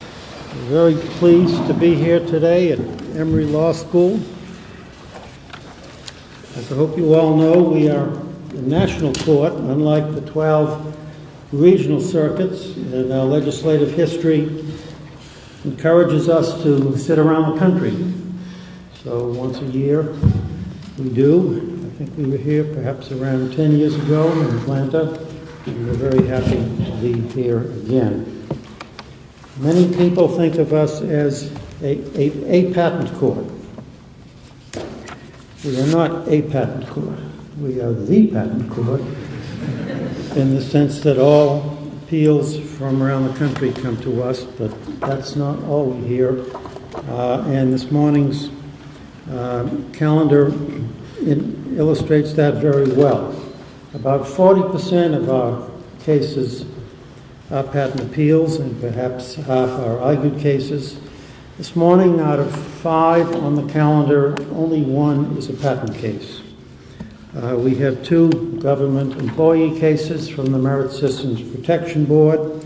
We're very pleased to be here today at Emory Law School. As I hope you all know, we are a national court, unlike the 12 regional circuits, and our legislative history encourages us to sit around the country. So once a year we do. I think we were here perhaps around 10 years ago in Atlanta, and we're very happy to be here again. Many people think of us as a patent court. We are not a patent court. We are the patent court, in the sense that all appeals from around the country come to us, but that's not all we hear. And this morning's calendar illustrates that very well. About 40% of our cases are patent appeals, and perhaps half are argued cases. This morning, out of five on the calendar, only one is a patent case. We have two government employee cases from the Merit Systems Protection Board.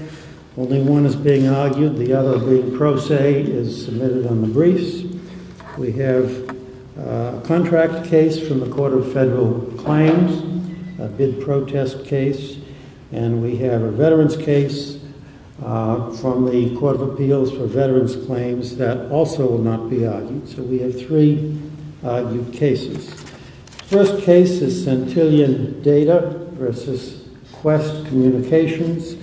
Only one is being argued. The other, the pro se, is submitted on the briefs. We have a contract case from the Court of Federal Claims, a bid protest case, and we have a veterans case from the Court of Appeals for Veterans Claims that also will not be argued. So we have three argued cases. First case is Centillion Data v. Quest Communications,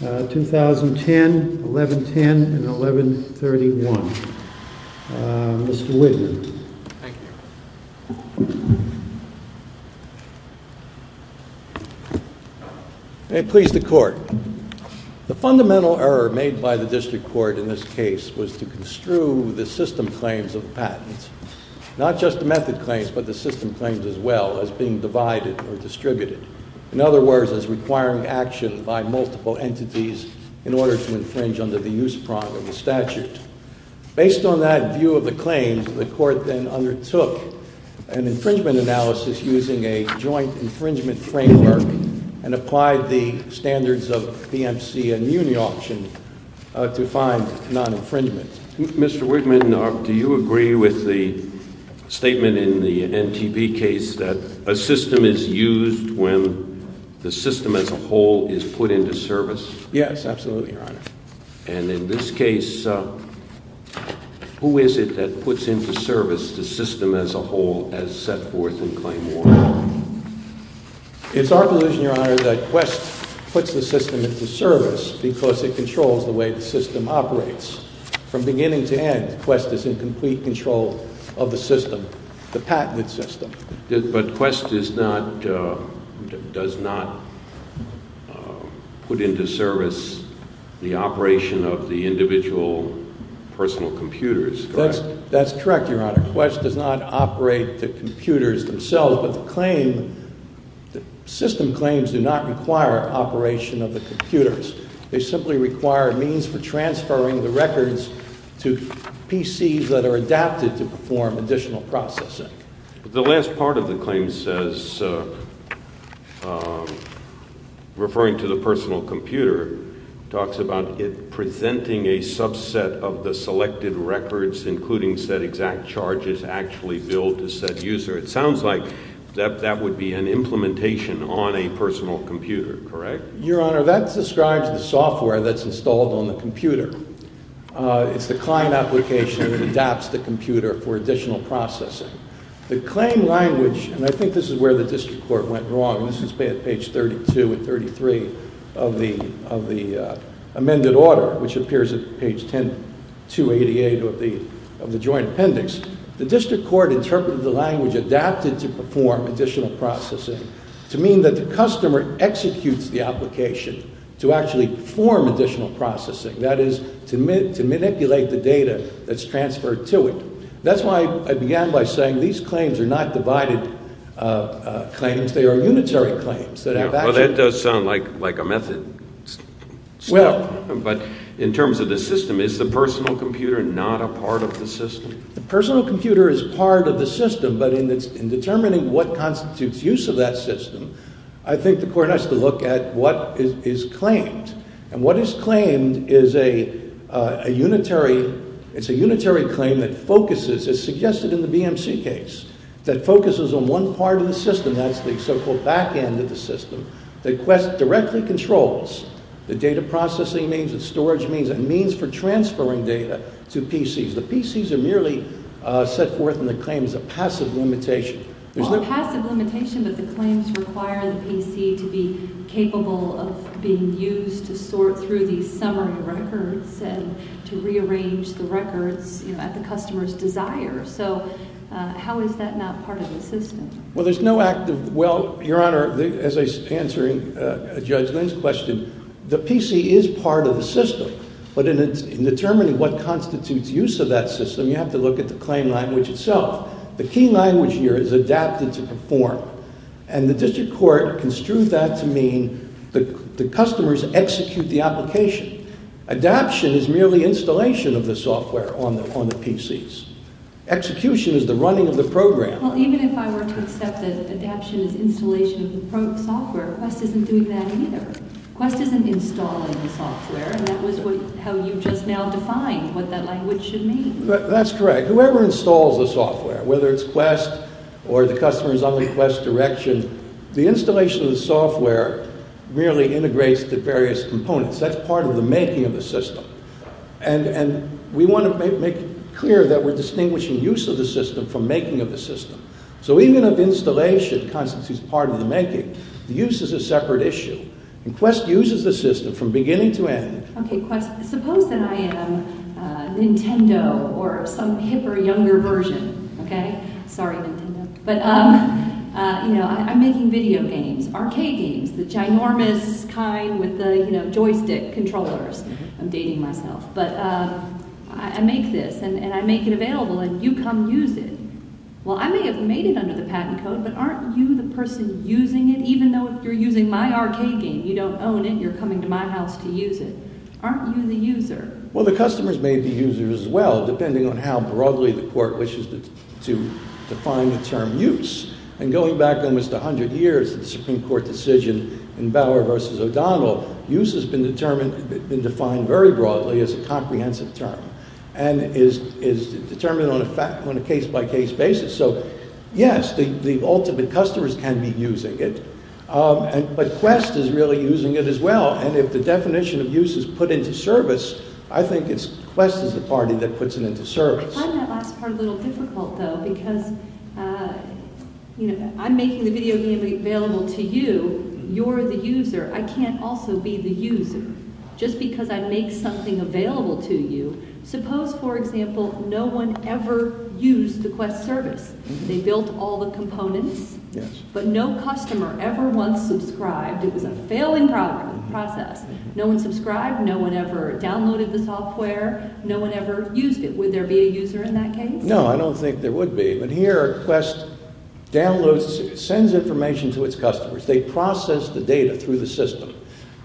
2010, 1110, and 1131. Mr. Wigner. Thank you. May it please the Court. The fundamental error made by the district court in this case was to construe the system claims of patents, not just the method claims, but the system claims as well, as being divided or distributed. In other words, as requiring action by multiple entities in order to infringe under the use prong of the statute. Based on that view of the claims, the Court then undertook an infringement analysis using a joint infringement framework and applied the standards of PMC and Muni Auction to find non-infringement. Mr. Wigner, do you agree with the statement in the NTP case that a system is used when the system as a whole is put into service? Yes, absolutely, Your Honor. And in this case, who is it that puts into service the system as a whole as set forth in claim one? It's our position, Your Honor, that Quest puts the system into service because it controls the way the system operates. From beginning to end, Quest is in complete control of the system, the patented system. But Quest does not put into service the operation of the individual personal computers, correct? That's correct, Your Honor. Quest does not operate the computers themselves, but the system claims do not require operation of the computers. They simply require a means for transferring the records to PCs that are adapted to perform additional processing. The last part of the claim says, referring to the personal computer, talks about it presenting a subset of the selected records, including set exact charges, actually billed to said user. It sounds like that would be an implementation on a personal computer, correct? Your Honor, that describes the software that's installed on the computer. It's the client application that adapts the computer for additional processing. The claim language, and I think this is where the district court went wrong, and this is page 32 and 33 of the amended order, which appears at page 288 of the joint appendix. The district court interpreted the language adapted to perform additional processing to mean that the customer executes the application to actually perform additional processing, that is, to manipulate the data that's transferred to it. That's why I began by saying these claims are not divided claims. They are unitary claims. Well, that does sound like a method step, but in terms of the system, is the personal computer not a part of the system? The personal computer is part of the system, but in determining what constitutes use of that system, I think the court has to look at what is claimed. And what is claimed is a unitary claim that focuses, as suggested in the BMC case, that focuses on one part of the system. And that's the so-called back end of the system that directly controls the data processing means, the storage means, and means for transferring data to PCs. The PCs are merely set forth in the claims as a passive limitation. Well, a passive limitation, but the claims require the PC to be capable of being used to sort through these summary records and to rearrange the records at the customer's desire. So how is that not part of the system? Well, there's no active – well, Your Honor, as I was answering Judge Lynn's question, the PC is part of the system, but in determining what constitutes use of that system, you have to look at the claim language itself. The key language here is adapted to perform, and the district court construed that to mean the customers execute the application. Adaption is merely installation of the software on the PCs. Execution is the running of the program. Well, even if I were to accept that adaption is installation of the software, Quest isn't doing that either. Quest isn't installing the software, and that was how you just now defined what that language should mean. That's correct. Whoever installs the software, whether it's Quest or the customer is on the Quest direction, the installation of the software merely integrates the various components. That's part of the making of the system. And we want to make clear that we're distinguishing use of the system from making of the system. So even if installation constitutes part of the making, the use is a separate issue. And Quest uses the system from beginning to end. Okay, Quest. Suppose that I am Nintendo or some hipper, younger version, okay? Sorry, Nintendo. But I'm making video games, arcade games, the ginormous kind with the joystick controllers. I'm dating myself. But I make this, and I make it available, and you come use it. Well, I may have made it under the patent code, but aren't you the person using it, even though you're using my arcade game? You don't own it. You're coming to my house to use it. Aren't you the user? Well, the customers may be users as well, depending on how broadly the court wishes to define the term use. And going back almost 100 years, the Supreme Court decision in Bauer versus O'Donnell, use has been defined very broadly as a comprehensive term and is determined on a case-by-case basis. So, yes, the ultimate customers can be using it. But Quest is really using it as well. And if the definition of use is put into service, I think it's Quest as a party that puts it into service. I find that last part a little difficult, though, because I'm making the video game available to you. You're the user. I can't also be the user just because I make something available to you. Suppose, for example, no one ever used the Quest service. They built all the components, but no customer ever once subscribed. It was a failing process. No one subscribed. No one ever downloaded the software. No one ever used it. Would there be a user in that case? No, I don't think there would be. But here, Quest downloads, sends information to its customers. They process the data through the system.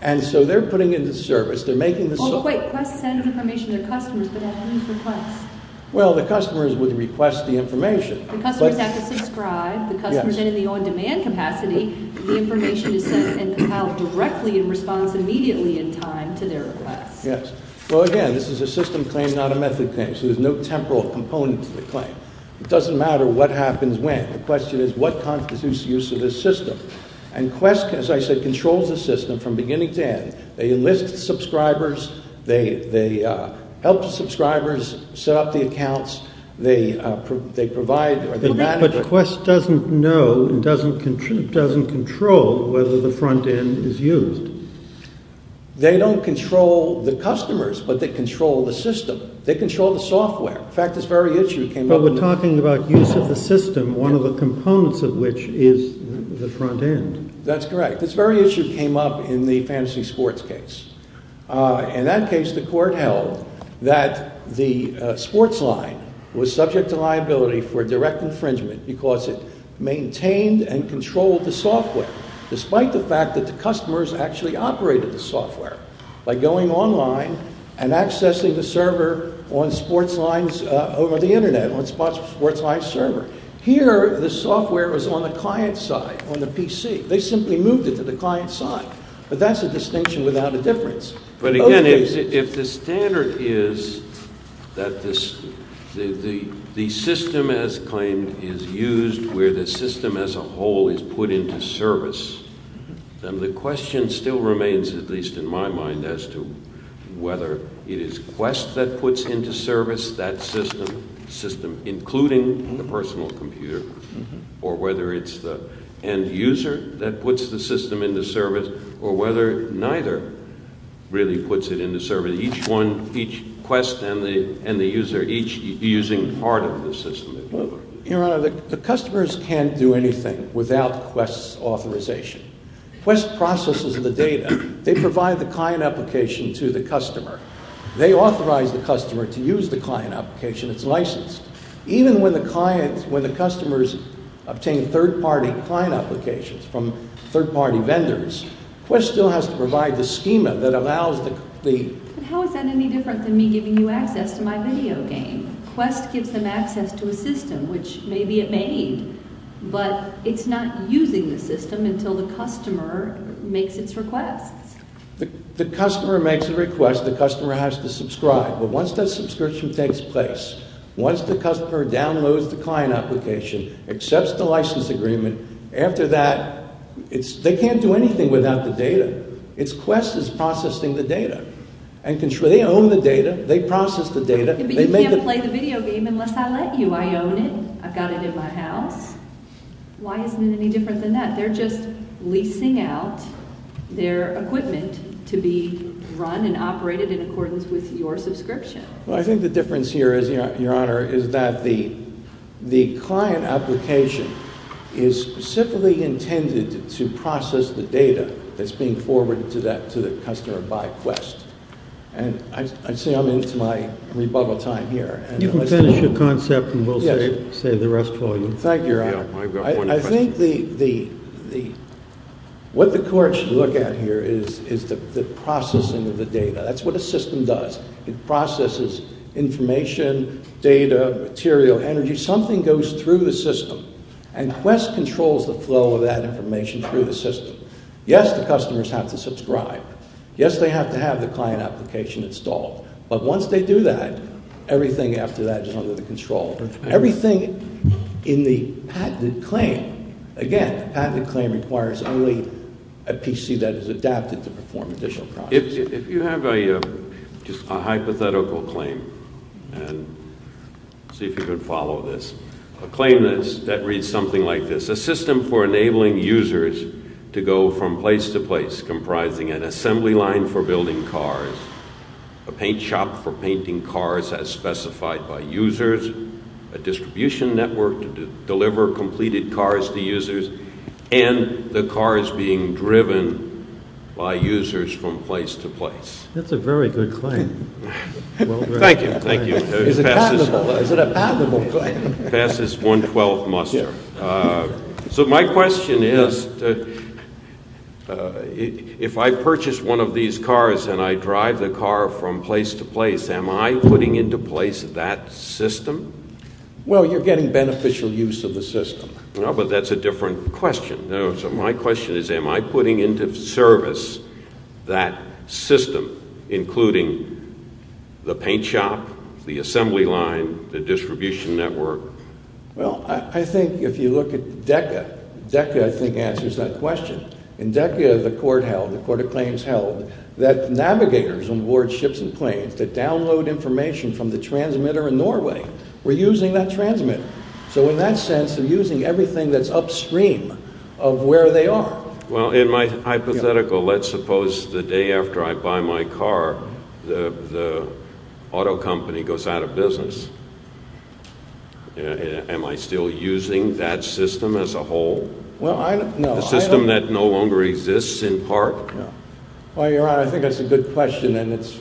And so they're putting it into service. They're making the service— Oh, but wait. Quest sends information to customers, but it happens for Quest. Well, the customers would request the information. The customers have to subscribe. The customers, then, in the on-demand capacity, the information is sent and compiled directly in response immediately in time to their request. Yes. Well, again, this is a system claim, not a method claim, so there's no temporal component to the claim. It doesn't matter what happens when. The question is, what constitutes the use of this system? And Quest, as I said, controls the system from beginning to end. They enlist subscribers. They help the subscribers set up the accounts. They provide— But Quest doesn't know and doesn't control whether the front end is used. They don't control the customers, but they control the system. They control the software. In fact, this very issue came up— But we're talking about use of the system, one of the components of which is the front end. This very issue came up in the Fantasy Sports case. In that case, the court held that the SportsLine was subject to liability for direct infringement because it maintained and controlled the software, despite the fact that the customers actually operated the software by going online and accessing the server on SportsLine's—over the Internet, on SportsLine's server. Here, the software was on the client's side, on the PC. They simply moved it to the client's side, but that's a distinction without a difference. But again, if the standard is that the system, as claimed, is used where the system as a whole is put into service, then the question still remains, at least in my mind, as to whether it is Quest that puts into service that system, including the personal computer, or whether it's the end user that puts the system into service, or whether neither really puts it into service, each one—each Quest and the end user each using part of the system. Your Honor, the customers can't do anything without Quest's authorization. Quest processes the data. They provide the client application to the customer. They authorize the customer to use the client application. It's licensed. Even when the client—when the customers obtain third-party client applications from third-party vendors, Quest still has to provide the schema that allows the— But how is that any different than me giving you access to my video game? Quest gives them access to a system, which maybe it made, but it's not using the system until the customer makes its requests. The customer makes a request. The customer has to subscribe. But once that subscription takes place, once the customer downloads the client application, accepts the license agreement, after that, it's—they can't do anything without the data. It's Quest that's processing the data and controlling—they own the data. They process the data. But you can't play the video game unless I let you. I own it. I've got it in my house. Why isn't it any different than that? They're just leasing out their equipment to be run and operated in accordance with your subscription. Well, I think the difference here is, Your Honor, is that the client application is specifically intended to process the data that's being forwarded to that—to the customer by Quest. And I'd say I'm into my rebuttal time here. You can finish your concept and we'll save the rest for you. Thank you, Your Honor. I think the—what the court should look at here is the processing of the data. That's what a system does. It processes information, data, material, energy. Something goes through the system. And Quest controls the flow of that information through the system. Yes, the customers have to subscribe. Yes, they have to have the client application installed. But once they do that, everything after that is under the control. Everything in the patented claim—again, the patented claim requires only a PC that is adapted to perform additional processing. If you have a hypothetical claim—and see if you can follow this—a claim that reads something like this. That's a very good claim. Thank you. Thank you. Is it patentable? Is it a patentable claim? It passes 112th muster. So my question is, if I purchase one of these cars and I drive the car from place to place, am I putting into place that system? Well, you're getting beneficial use of the system. No, but that's a different question. So my question is, am I putting into service that system, including the paint shop, the assembly line, the distribution network? Well, I think if you look at DECA, DECA I think answers that question. In DECA, the court held, the court of claims held, that navigators on warships and planes that download information from the transmitter in Norway were using that transmitter. So in that sense, they're using everything that's upstream of where they are. Well, in my hypothetical, let's suppose the day after I buy my car, the auto company goes out of business. Am I still using that system as a whole? Well, I don't— The system that no longer exists in part? Well, Your Honor, I think that's a good question and it's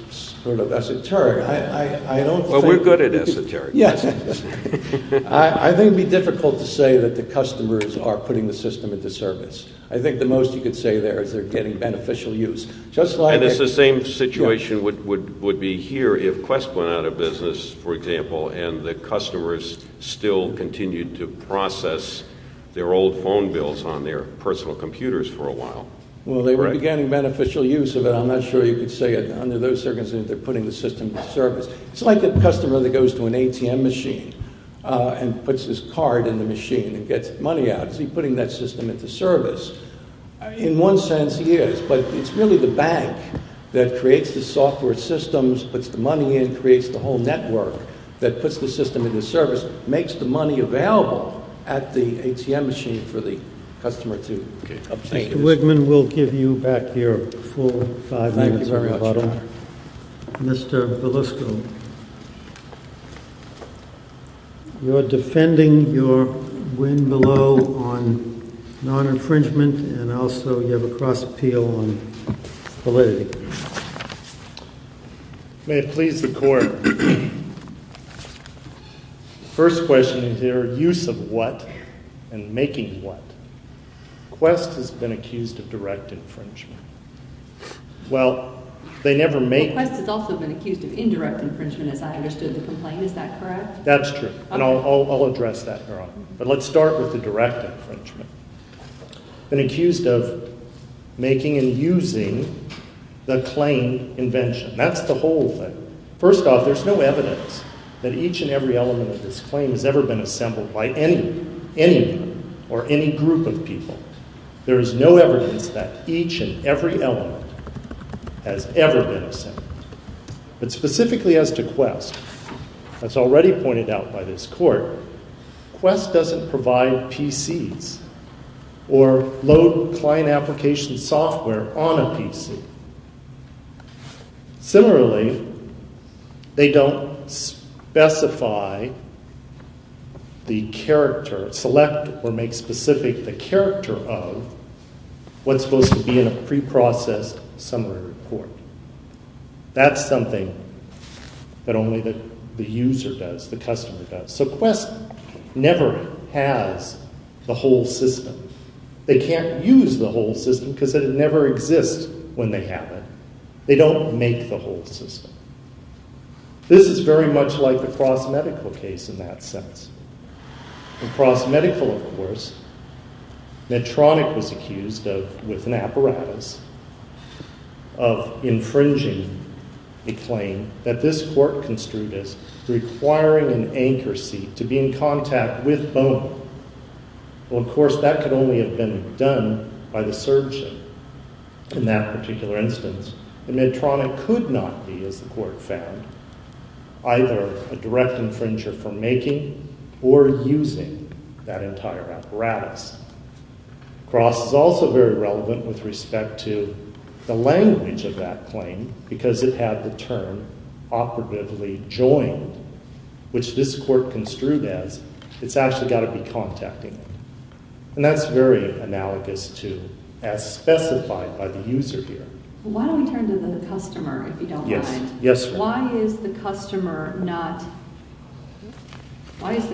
sort of esoteric. I don't think— Well, we're good at esoteric questions. I think it would be difficult to say that the customers are putting the system into service. I think the most you could say there is they're getting beneficial use. And it's the same situation would be here if Quest went out of business, for example, and the customers still continued to process their old phone bills on their personal computers for a while. Well, they were getting beneficial use of it. I'm not sure you could say under those circumstances they're putting the system into service. It's like a customer that goes to an ATM machine and puts his card in the machine and gets money out. Is he putting that system into service? In one sense, he is, but it's really the bank that creates the software systems, puts the money in, creates the whole network that puts the system into service, makes the money available at the ATM machine for the customer to obtain it. Mr. Wigman, we'll give you back your full five minutes. Thank you very much, Your Honor. Mr. Belusco, you're defending your win below on non-infringement and also you have a cross-appeal on validity. May it please the Court. First question is their use of what and making what? Quest has been accused of direct infringement. Well, they never make— Well, Quest has also been accused of indirect infringement, as I understood the complaint. Is that correct? That's true, and I'll address that, Your Honor. But let's start with the direct infringement. They've been accused of making and using the claim invention. That's the whole thing. First off, there's no evidence that each and every element of this claim has ever been assembled by anyone, any group of people. There is no evidence that each and every element has ever been assembled. But specifically as to Quest, as already pointed out by this Court, Quest doesn't provide PCs or load client application software on a PC. Similarly, they don't specify the character, select or make specific the character of what's supposed to be in a preprocessed summary report. That's something that only the user does, the customer does. So Quest never has the whole system. They can't use the whole system because it never exists when they have it. They don't make the whole system. This is very much like the Cross Medical case in that sense. In Cross Medical, of course, Medtronic was accused of, with an apparatus, of infringing a claim that this Court construed as requiring an anchor seat to be in contact with Bono. Well, of course, that could only have been done by the surgeon in that particular instance. The Medtronic could not be, as the Court found, either a direct infringer for making or using that entire apparatus. Cross is also very relevant with respect to the language of that claim because it had the term operatively joined, which this Court construed as it's actually got to be contacting. And that's very analogous to as specified by the user here. Why don't we turn to the customer, if you don't mind? Why is the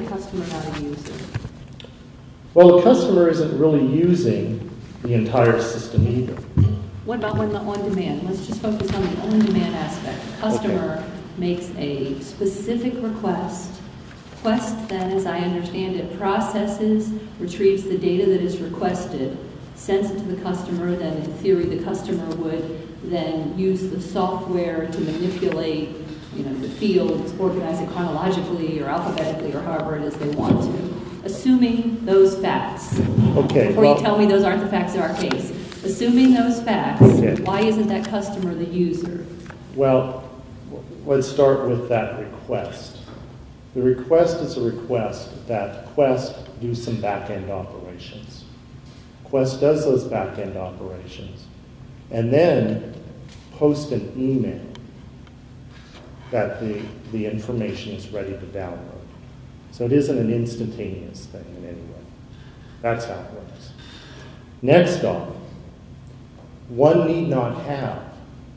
customer not a user? Well, the customer isn't really using the entire system either. What about on-demand? Let's just focus on the on-demand aspect. The customer makes a specific request, a request that, as I understand it, processes, retrieves the data that is requested, sends it to the customer, that in theory the customer would then use the software to manipulate the field, organize it chronologically or alphabetically or however it is they want to, assuming those facts. Before you tell me those aren't the facts of our case, assuming those facts, why isn't that customer the user? Well, let's start with that request. The request is a request that Quest do some back-end operations. Quest does those back-end operations and then posts an email that the information is ready to download. So it isn't an instantaneous thing in any way. That's how it works. Next off, one need not have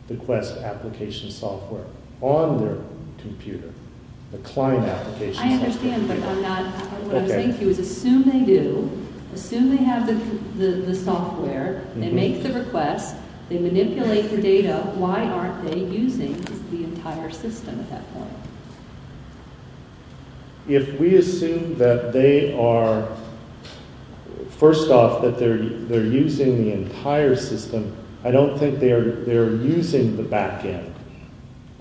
the Quest application software on their computer, the client application software. I understand, but what I'm saying to you is assume they do, assume they have the software, they make the request, they manipulate the data, why aren't they using the entire system at that point? If we assume that they are, first off, that they're using the entire system, I don't think they're using the back-end.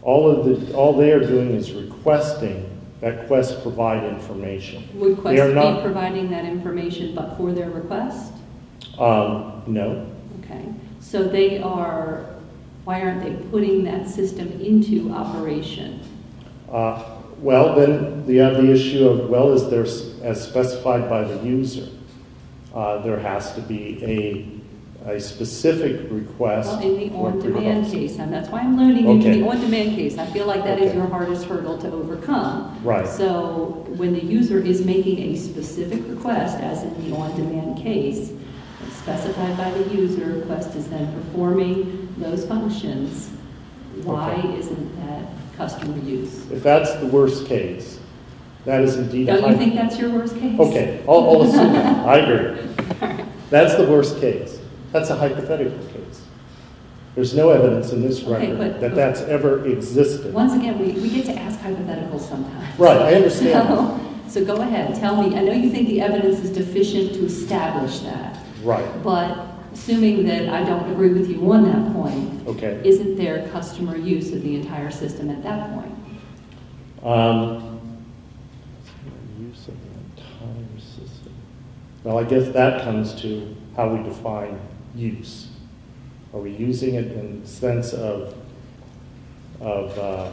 All they are doing is requesting that Quest provide information. Would Quest be providing that information but for their request? No. Okay, so they are, why aren't they putting that system into operation? Well, then, the issue of, well, as specified by the user, there has to be a specific request. In the on-demand case, and that's why I'm learning, in the on-demand case, I feel like that is your hardest hurdle to overcome. Right. So, when the user is making a specific request, as in the on-demand case, specified by the user, Quest is then performing those functions, why isn't that customer use? If that's the worst case, that is indeed a hypothetical. Don't you think that's your worst case? Okay, I'll assume that. I agree. That's the worst case. That's a hypothetical case. There's no evidence in this record that that's ever existed. Once again, we get to ask hypotheticals sometimes. Right, I understand. So, go ahead, tell me. I know you think the evidence is deficient to establish that. Right. But, assuming that I don't agree with you on that point, isn't there customer use of the entire system at that point? Well, I guess that comes to how we define use. Are we using it in the sense of a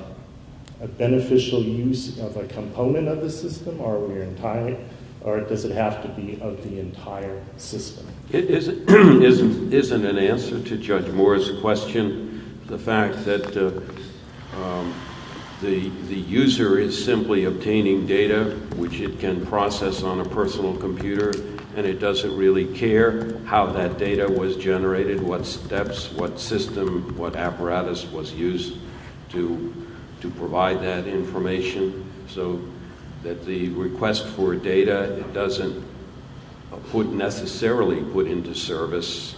beneficial use of a component of the system, or does it have to be of the entire system? It isn't an answer to Judge Moore's question. The fact that the user is simply obtaining data, which it can process on a personal computer, and it doesn't really care how that data was generated, what steps, what system, what apparatus was used to provide that information. So, that the request for data doesn't necessarily put into service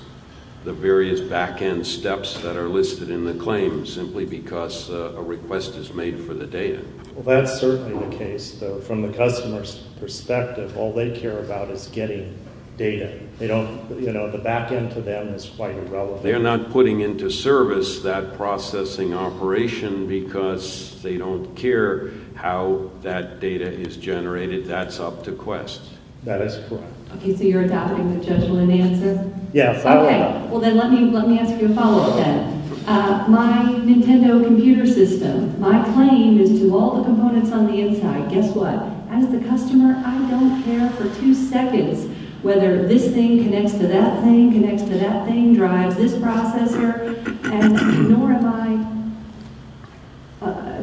the various back-end steps that are listed in the claim simply because a request is made for the data. Well, that's certainly the case, though. From the customer's perspective, all they care about is getting data. They don't, you know, the back-end to them is quite irrelevant. They're not putting into service that processing operation because they don't care how that data is generated. That's up to Quest. That is correct. Okay, so you're adopting the judgment answer? Yes, I am. Okay, well then let me ask you a follow-up then. My Nintendo computer system, my claim is to all the components on the inside. Guess what? As the customer, I don't care for two seconds whether this thing connects to that thing, connects to that thing, drives this processor, and nor am I,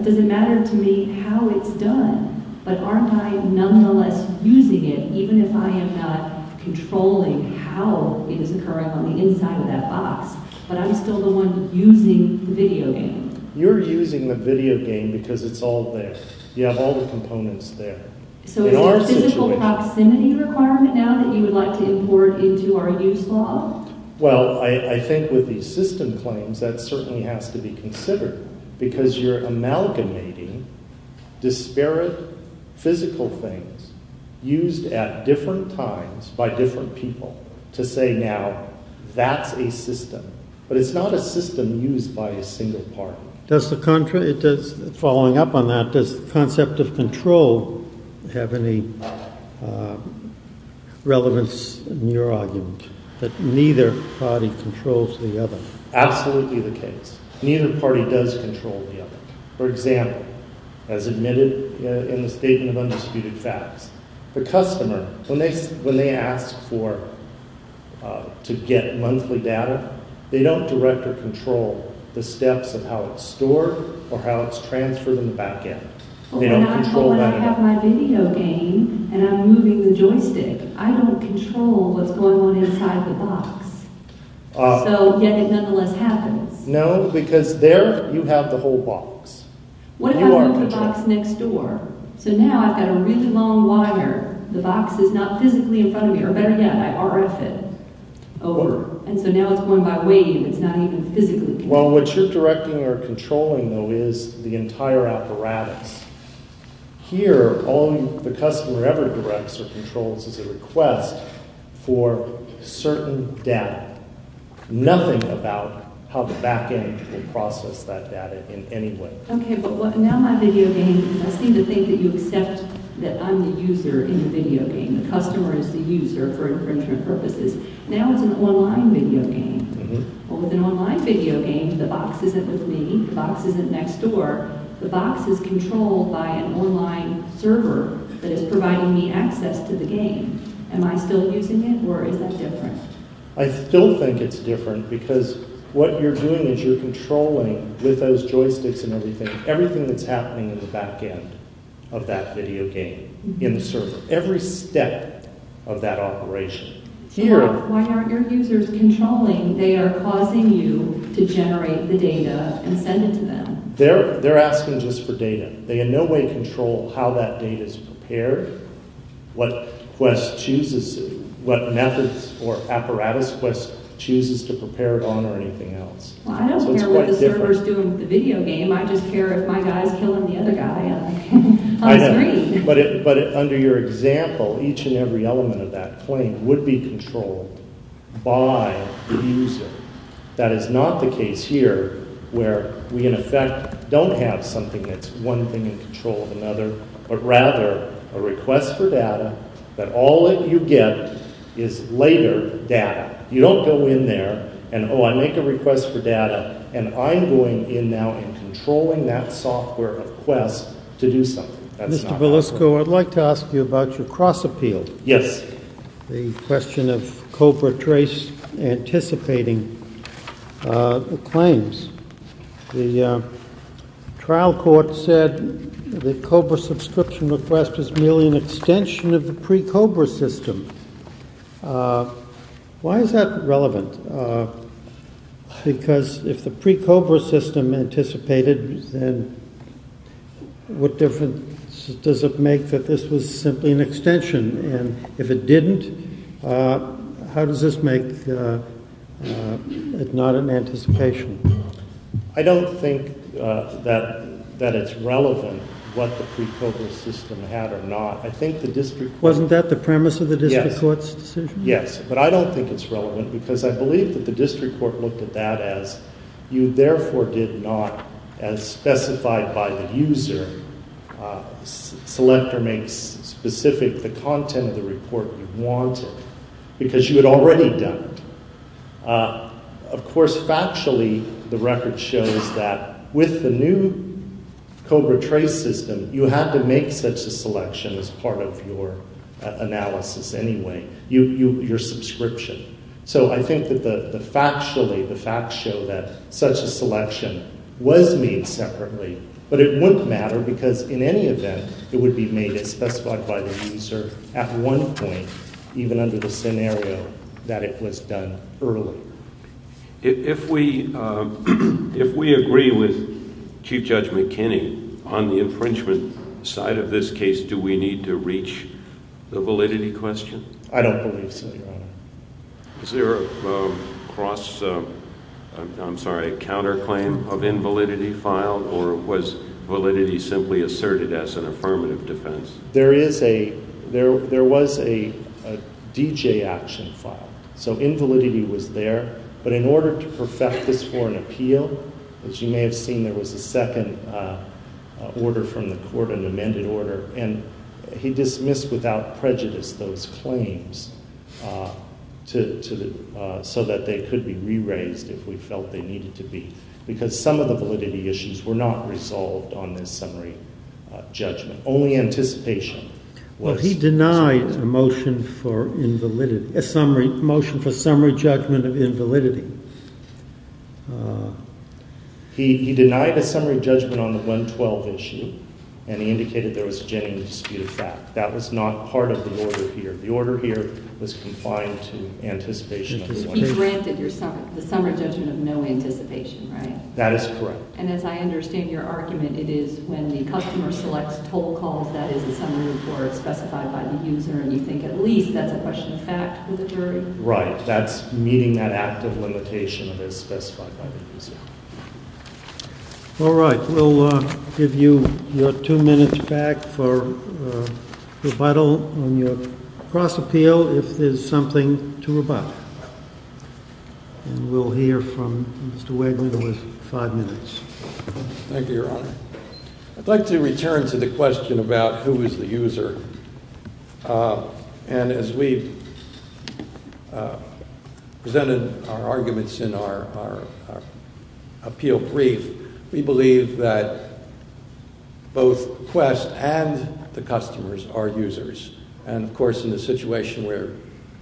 does it matter to me how it's done? But aren't I nonetheless using it even if I am not controlling how it is occurring on the inside of that box? But I'm still the one using the video game. You're using the video game because it's all there. You have all the components there. So, is there a physical proximity requirement now that you would like to import into our use law? Well, I think with the system claims, that certainly has to be considered because you're amalgamating disparate physical things used at different times by different people to say now, that's a system. But it's not a system used by a single party. Following up on that, does the concept of control have any relevance in your argument that neither party controls the other? Absolutely the case. Neither party does control the other. For example, as admitted in the statement of undisputed facts, the customer, when they ask to get monthly data, they don't direct or control the steps of how it's stored or how it's transferred in the backend. But when I have my video game and I'm moving the joystick, I don't control what's going on inside the box. So, yet it nonetheless happens. No, because there you have the whole box. What if I move the box next door? So now I've got a really long wire. The box is not physically in front of me. Or better yet, I RF it over. And so now it's going by wave. It's not even physically. Well, what you're directing or controlling, though, is the entire apparatus. Here, all the customer ever directs or controls is a request for certain data. Nothing about how the backend will process that data in any way. Okay, but now my video game, I seem to think that you accept that I'm the user in the video game. The customer is the user for infringement purposes. Now it's an online video game. Well, with an online video game, the box isn't with me. The box isn't next door. The box is controlled by an online server that is providing me access to the game. Am I still using it or is that different? I still think it's different because what you're doing is you're controlling, with those joysticks and everything, everything that's happening in the backend of that video game in the server. Every step of that operation. Why aren't your users controlling? They are causing you to generate the data and send it to them. They're asking just for data. They in no way control how that data is prepared, what methods or apparatus Quest chooses to prepare it on or anything else. Well, I don't care what the server's doing with the video game. I just care if my guy's killing the other guy on screen. But under your example, each and every element of that claim would be controlled by the user. That is not the case here where we, in effect, don't have something that's one thing in control of another, but rather a request for data that all that you get is later data. You don't go in there and, oh, I make a request for data and I'm going in now and controlling that software of Quest to do something. Mr. Belusco, I'd like to ask you about your cross appeal. Yes. The question of Cobra trace anticipating the claims. The trial court said the Cobra subscription request is merely an extension of the pre-Cobra system. Why is that relevant? Because if the pre-Cobra system anticipated, then what difference does it make that this was simply an extension? And if it didn't, how does this make it not an anticipation? I don't think that it's relevant what the pre-Cobra system had or not. Wasn't that the premise of the district court's decision? Yes. But I don't think it's relevant because I believe that the district court looked at that as you therefore did not, as specified by the user, select or make specific the content of the report you wanted because you had already done it. Of course, factually, the record shows that with the new Cobra trace system, you had to make such a selection as part of your analysis anyway, your subscription. So I think that factually, the facts show that such a selection was made separately, but it wouldn't matter because in any event, it would be made as specified by the user at one point, even under the scenario that it was done early. If we agree with Chief Judge McKinney on the infringement side of this case, do we need to reach the validity question? I don't believe so, Your Honor. Is there a cross – I'm sorry, a counterclaim of invalidity filed or was validity simply asserted as an affirmative defense? There is a – there was a DJ action filed. So invalidity was there. But in order to perfect this for an appeal, as you may have seen, there was a second order from the court, an amended order, and he dismissed without prejudice those claims so that they could be re-raised if we felt they needed to be because some of the validity issues were not resolved on this summary judgment. Well, he denied a motion for invalidity – a motion for summary judgment of invalidity. He denied a summary judgment on the 112 issue, and he indicated there was a genuine dispute of fact. That was not part of the order here. The order here was compliant to anticipation of 112. He granted the summary judgment of no anticipation, right? That is correct. And as I understand your argument, it is when the customer selects toll calls, that is, the summary report is specified by the user, and you think at least that's a question of fact for the jury? Right. That's meeting that active limitation that is specified by the user. All right. We'll give you your two minutes back for rebuttal on your cross appeal if there's something to rebut. And we'll hear from Mr. Wagner with five minutes. Thank you, Your Honor. I'd like to return to the question about who is the user. And as we presented our arguments in our appeal brief, we believe that both Quest and the customers are users. And, of course, in a situation where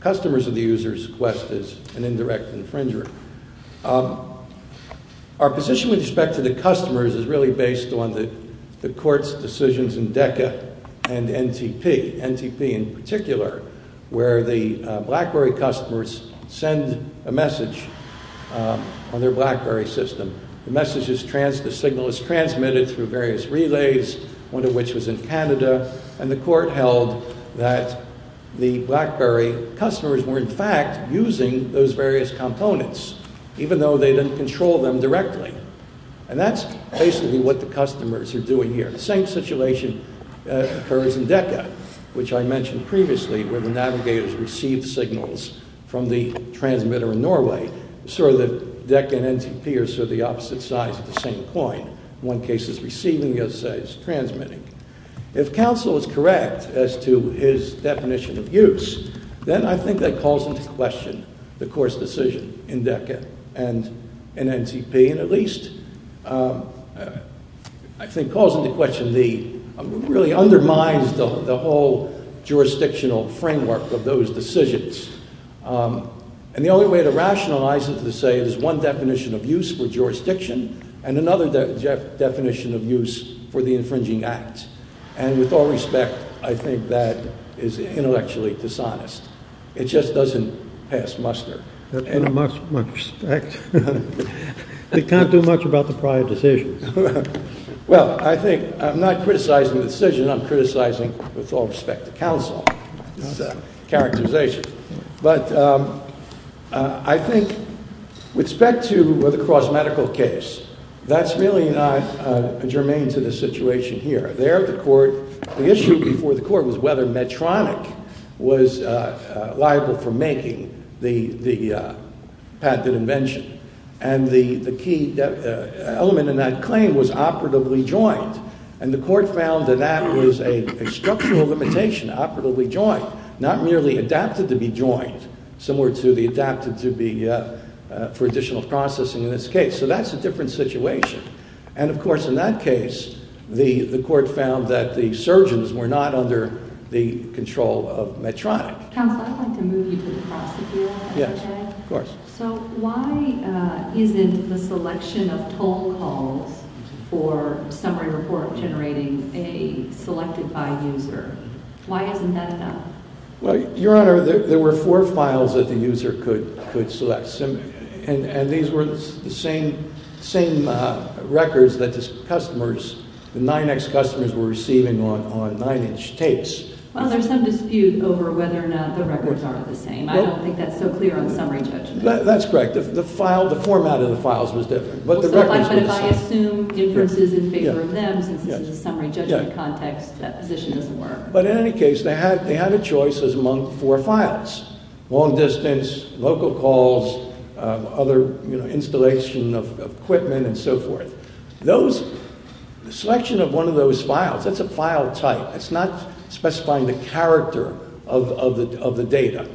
customers are the users, Quest is an indirect infringer. Our position with respect to the customers is really based on the court's decisions in DECA and NTP, NTP in particular, where the BlackBerry customers send a message on their BlackBerry system. The signal is transmitted through various relays, one of which was in Canada, and the court held that the BlackBerry customers were, in fact, using those various components, even though they didn't control them directly. And that's basically what the customers are doing here. The same situation occurs in DECA, which I mentioned previously, where the navigators receive signals from the transmitter in Norway, so that DECA and NTP are sort of the opposite sides of the same coin. One case is receiving, the other side is transmitting. If counsel is correct as to his definition of use, then I think that calls into question the court's decision in DECA and NTP, and at least, I think, calls into question the, really undermines the whole jurisdictional framework of those decisions. And the only way to rationalize it is to say it is one definition of use for jurisdiction and another definition of use for the infringing act. And with all respect, I think that is intellectually dishonest. It just doesn't pass muster. With much respect. It can't do much about the prior decision. Well, I think, I'm not criticizing the decision, I'm criticizing, with all respect, the counsel characterization. But I think with respect to the cross-medical case, that's really not germane to the situation here. There the court, the issue before the court was whether Medtronic was liable for making the patented invention. And the key element in that claim was operatively joined. And the court found that that was a structural limitation, operatively joined, not merely adapted to be joined, similar to the adapted to be, for additional processing in this case. So that's a different situation. And, of course, in that case, the court found that the surgeons were not under the control of Medtronic. Counsel, I'd like to move you to the prosecutor. Yes, of course. So why isn't the selection of toll calls for summary report generating a selected by user? Why isn't that done? Well, Your Honor, there were four files that the user could select. And these were the same records that the customers, the 9X customers, were receiving on 9-inch tapes. Well, there's some dispute over whether or not the records are the same. I don't think that's so clear on summary judgment. That's correct. The format of the files was different, but the records were the same. But if I assume inferences in favor of them, since this is a summary judgment context, that position doesn't work. But in any case, they had a choice among four files, long distance, local calls, other installation of equipment, and so forth. The selection of one of those files, that's a file type. It's not specifying the character of the data.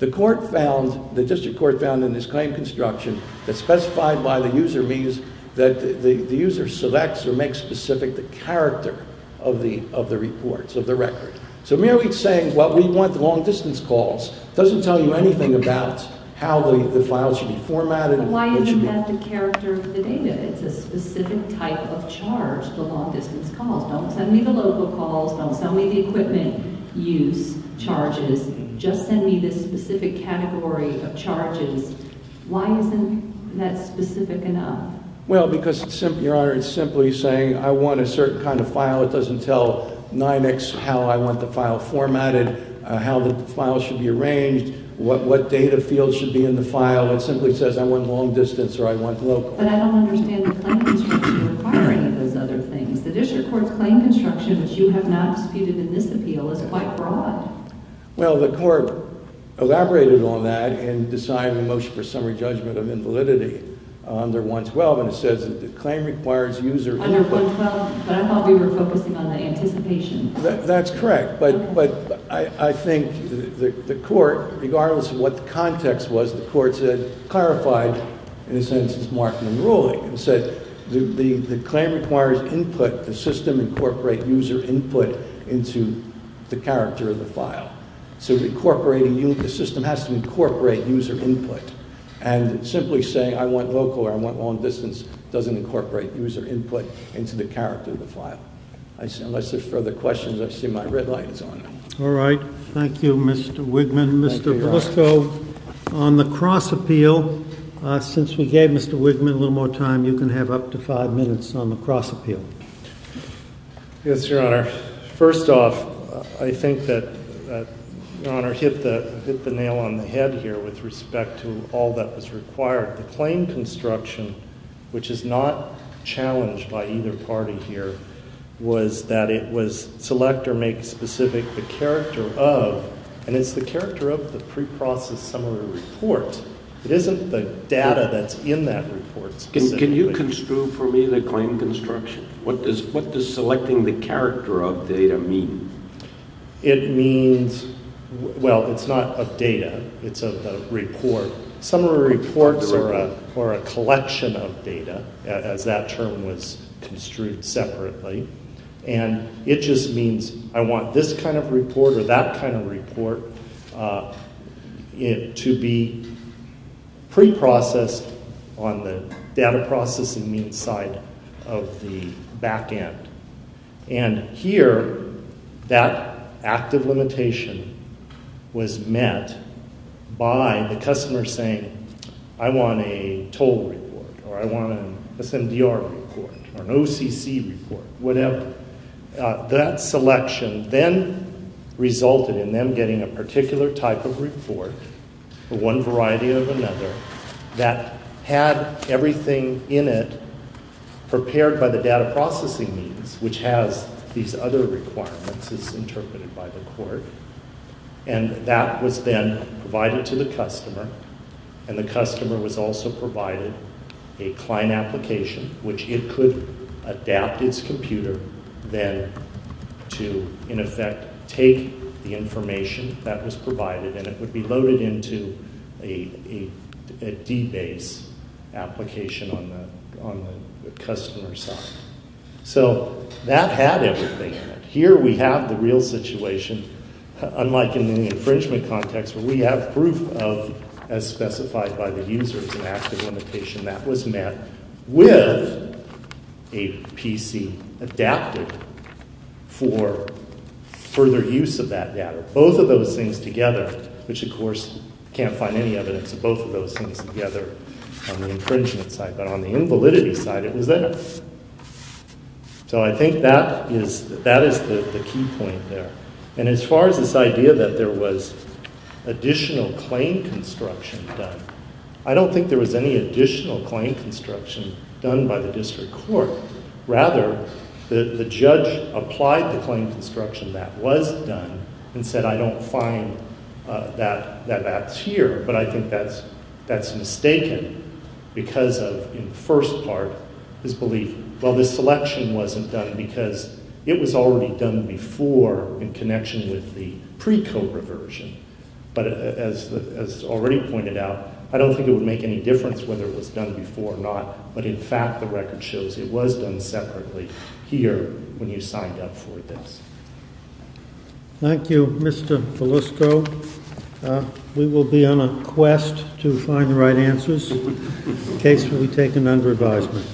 The court found, the district court found in this claim construction that specified by the user means that the user selects or makes specific the character of the reports, of the record. So merely saying, well, we want the long distance calls, doesn't tell you anything about how the files should be formatted. Why even have the character of the data? It's a specific type of charge, the long distance calls. Don't send me the local calls. Don't send me the equipment use charges. Just send me this specific category of charges. Why isn't that specific enough? Well, because, Your Honor, it's simply saying I want a certain kind of file. It doesn't tell NYMEX how I want the file formatted, how the file should be arranged, what data fields should be in the file. It simply says I want long distance or I want local. But I don't understand the claim construction requiring those other things. The district court's claim construction, which you have not disputed in this appeal, is quite broad. Well, the court elaborated on that in deciding the motion for summary judgment of invalidity under 112, and it says that the claim requires user input. Under 112? But I thought we were focusing on the anticipation. That's correct. But I think the court, regardless of what the context was, the court said, clarified, in a sense, its marking and ruling. It said the claim requires input. The system incorporate user input into the character of the file. So the system has to incorporate user input. And simply saying I want local or I want long distance doesn't incorporate user input into the character of the file. Unless there are further questions, I see my red light is on. All right. Thank you, Mr. Wigman. Thank you, Your Honor. Mr. Blusko, on the cross appeal, since we gave Mr. Wigman a little more time, you can have up to five minutes on the cross appeal. Yes, Your Honor. First off, I think that Your Honor hit the nail on the head here with respect to all that was required. The claim construction, which is not challenged by either party here, was that it was select or make specific the character of, and it's the character of the preprocessed summary report. It isn't the data that's in that report specifically. Can you construe for me the claim construction? What does selecting the character of data mean? It means, well, it's not of data. It's of the report. Summary reports are a collection of data, as that term was construed separately. And it just means I want this kind of report or that kind of report to be preprocessed on the data processing mean side of the back end. And here that active limitation was met by the customer saying, I want a toll report or I want an SMDR report or an OCC report, whatever. That selection then resulted in them getting a particular type of report, one variety of another, that had everything in it prepared by the data processing means, which has these other requirements as interpreted by the court. And that was then provided to the customer, and the customer was also provided a client application, which it could adapt its computer then to, in effect, take the information that was provided, and it would be loaded into a D-base application on the customer side. So that had everything in it. Here we have the real situation, unlike in the infringement context, where we have proof of, as specified by the users, an active limitation that was met with a PC adapted for further use of that data. Both of those things together, which of course can't find any evidence of both of those things together on the infringement side, but on the invalidity side, it was there. So I think that is the key point there. And as far as this idea that there was additional claim construction done, I don't think there was any additional claim construction done by the district court. Rather, the judge applied the claim construction that was done and said, I don't find that that's here, but I think that's mistaken because of, in the first part, his belief, well, this selection wasn't done because it was already done before in connection with the pre-COBRA version. But as already pointed out, I don't think it would make any difference whether it was done before or not, but in fact the record shows it was done separately here when you signed up for this. Thank you, Mr. Felusco. We will be on a quest to find the right answers in case we take an under advisement.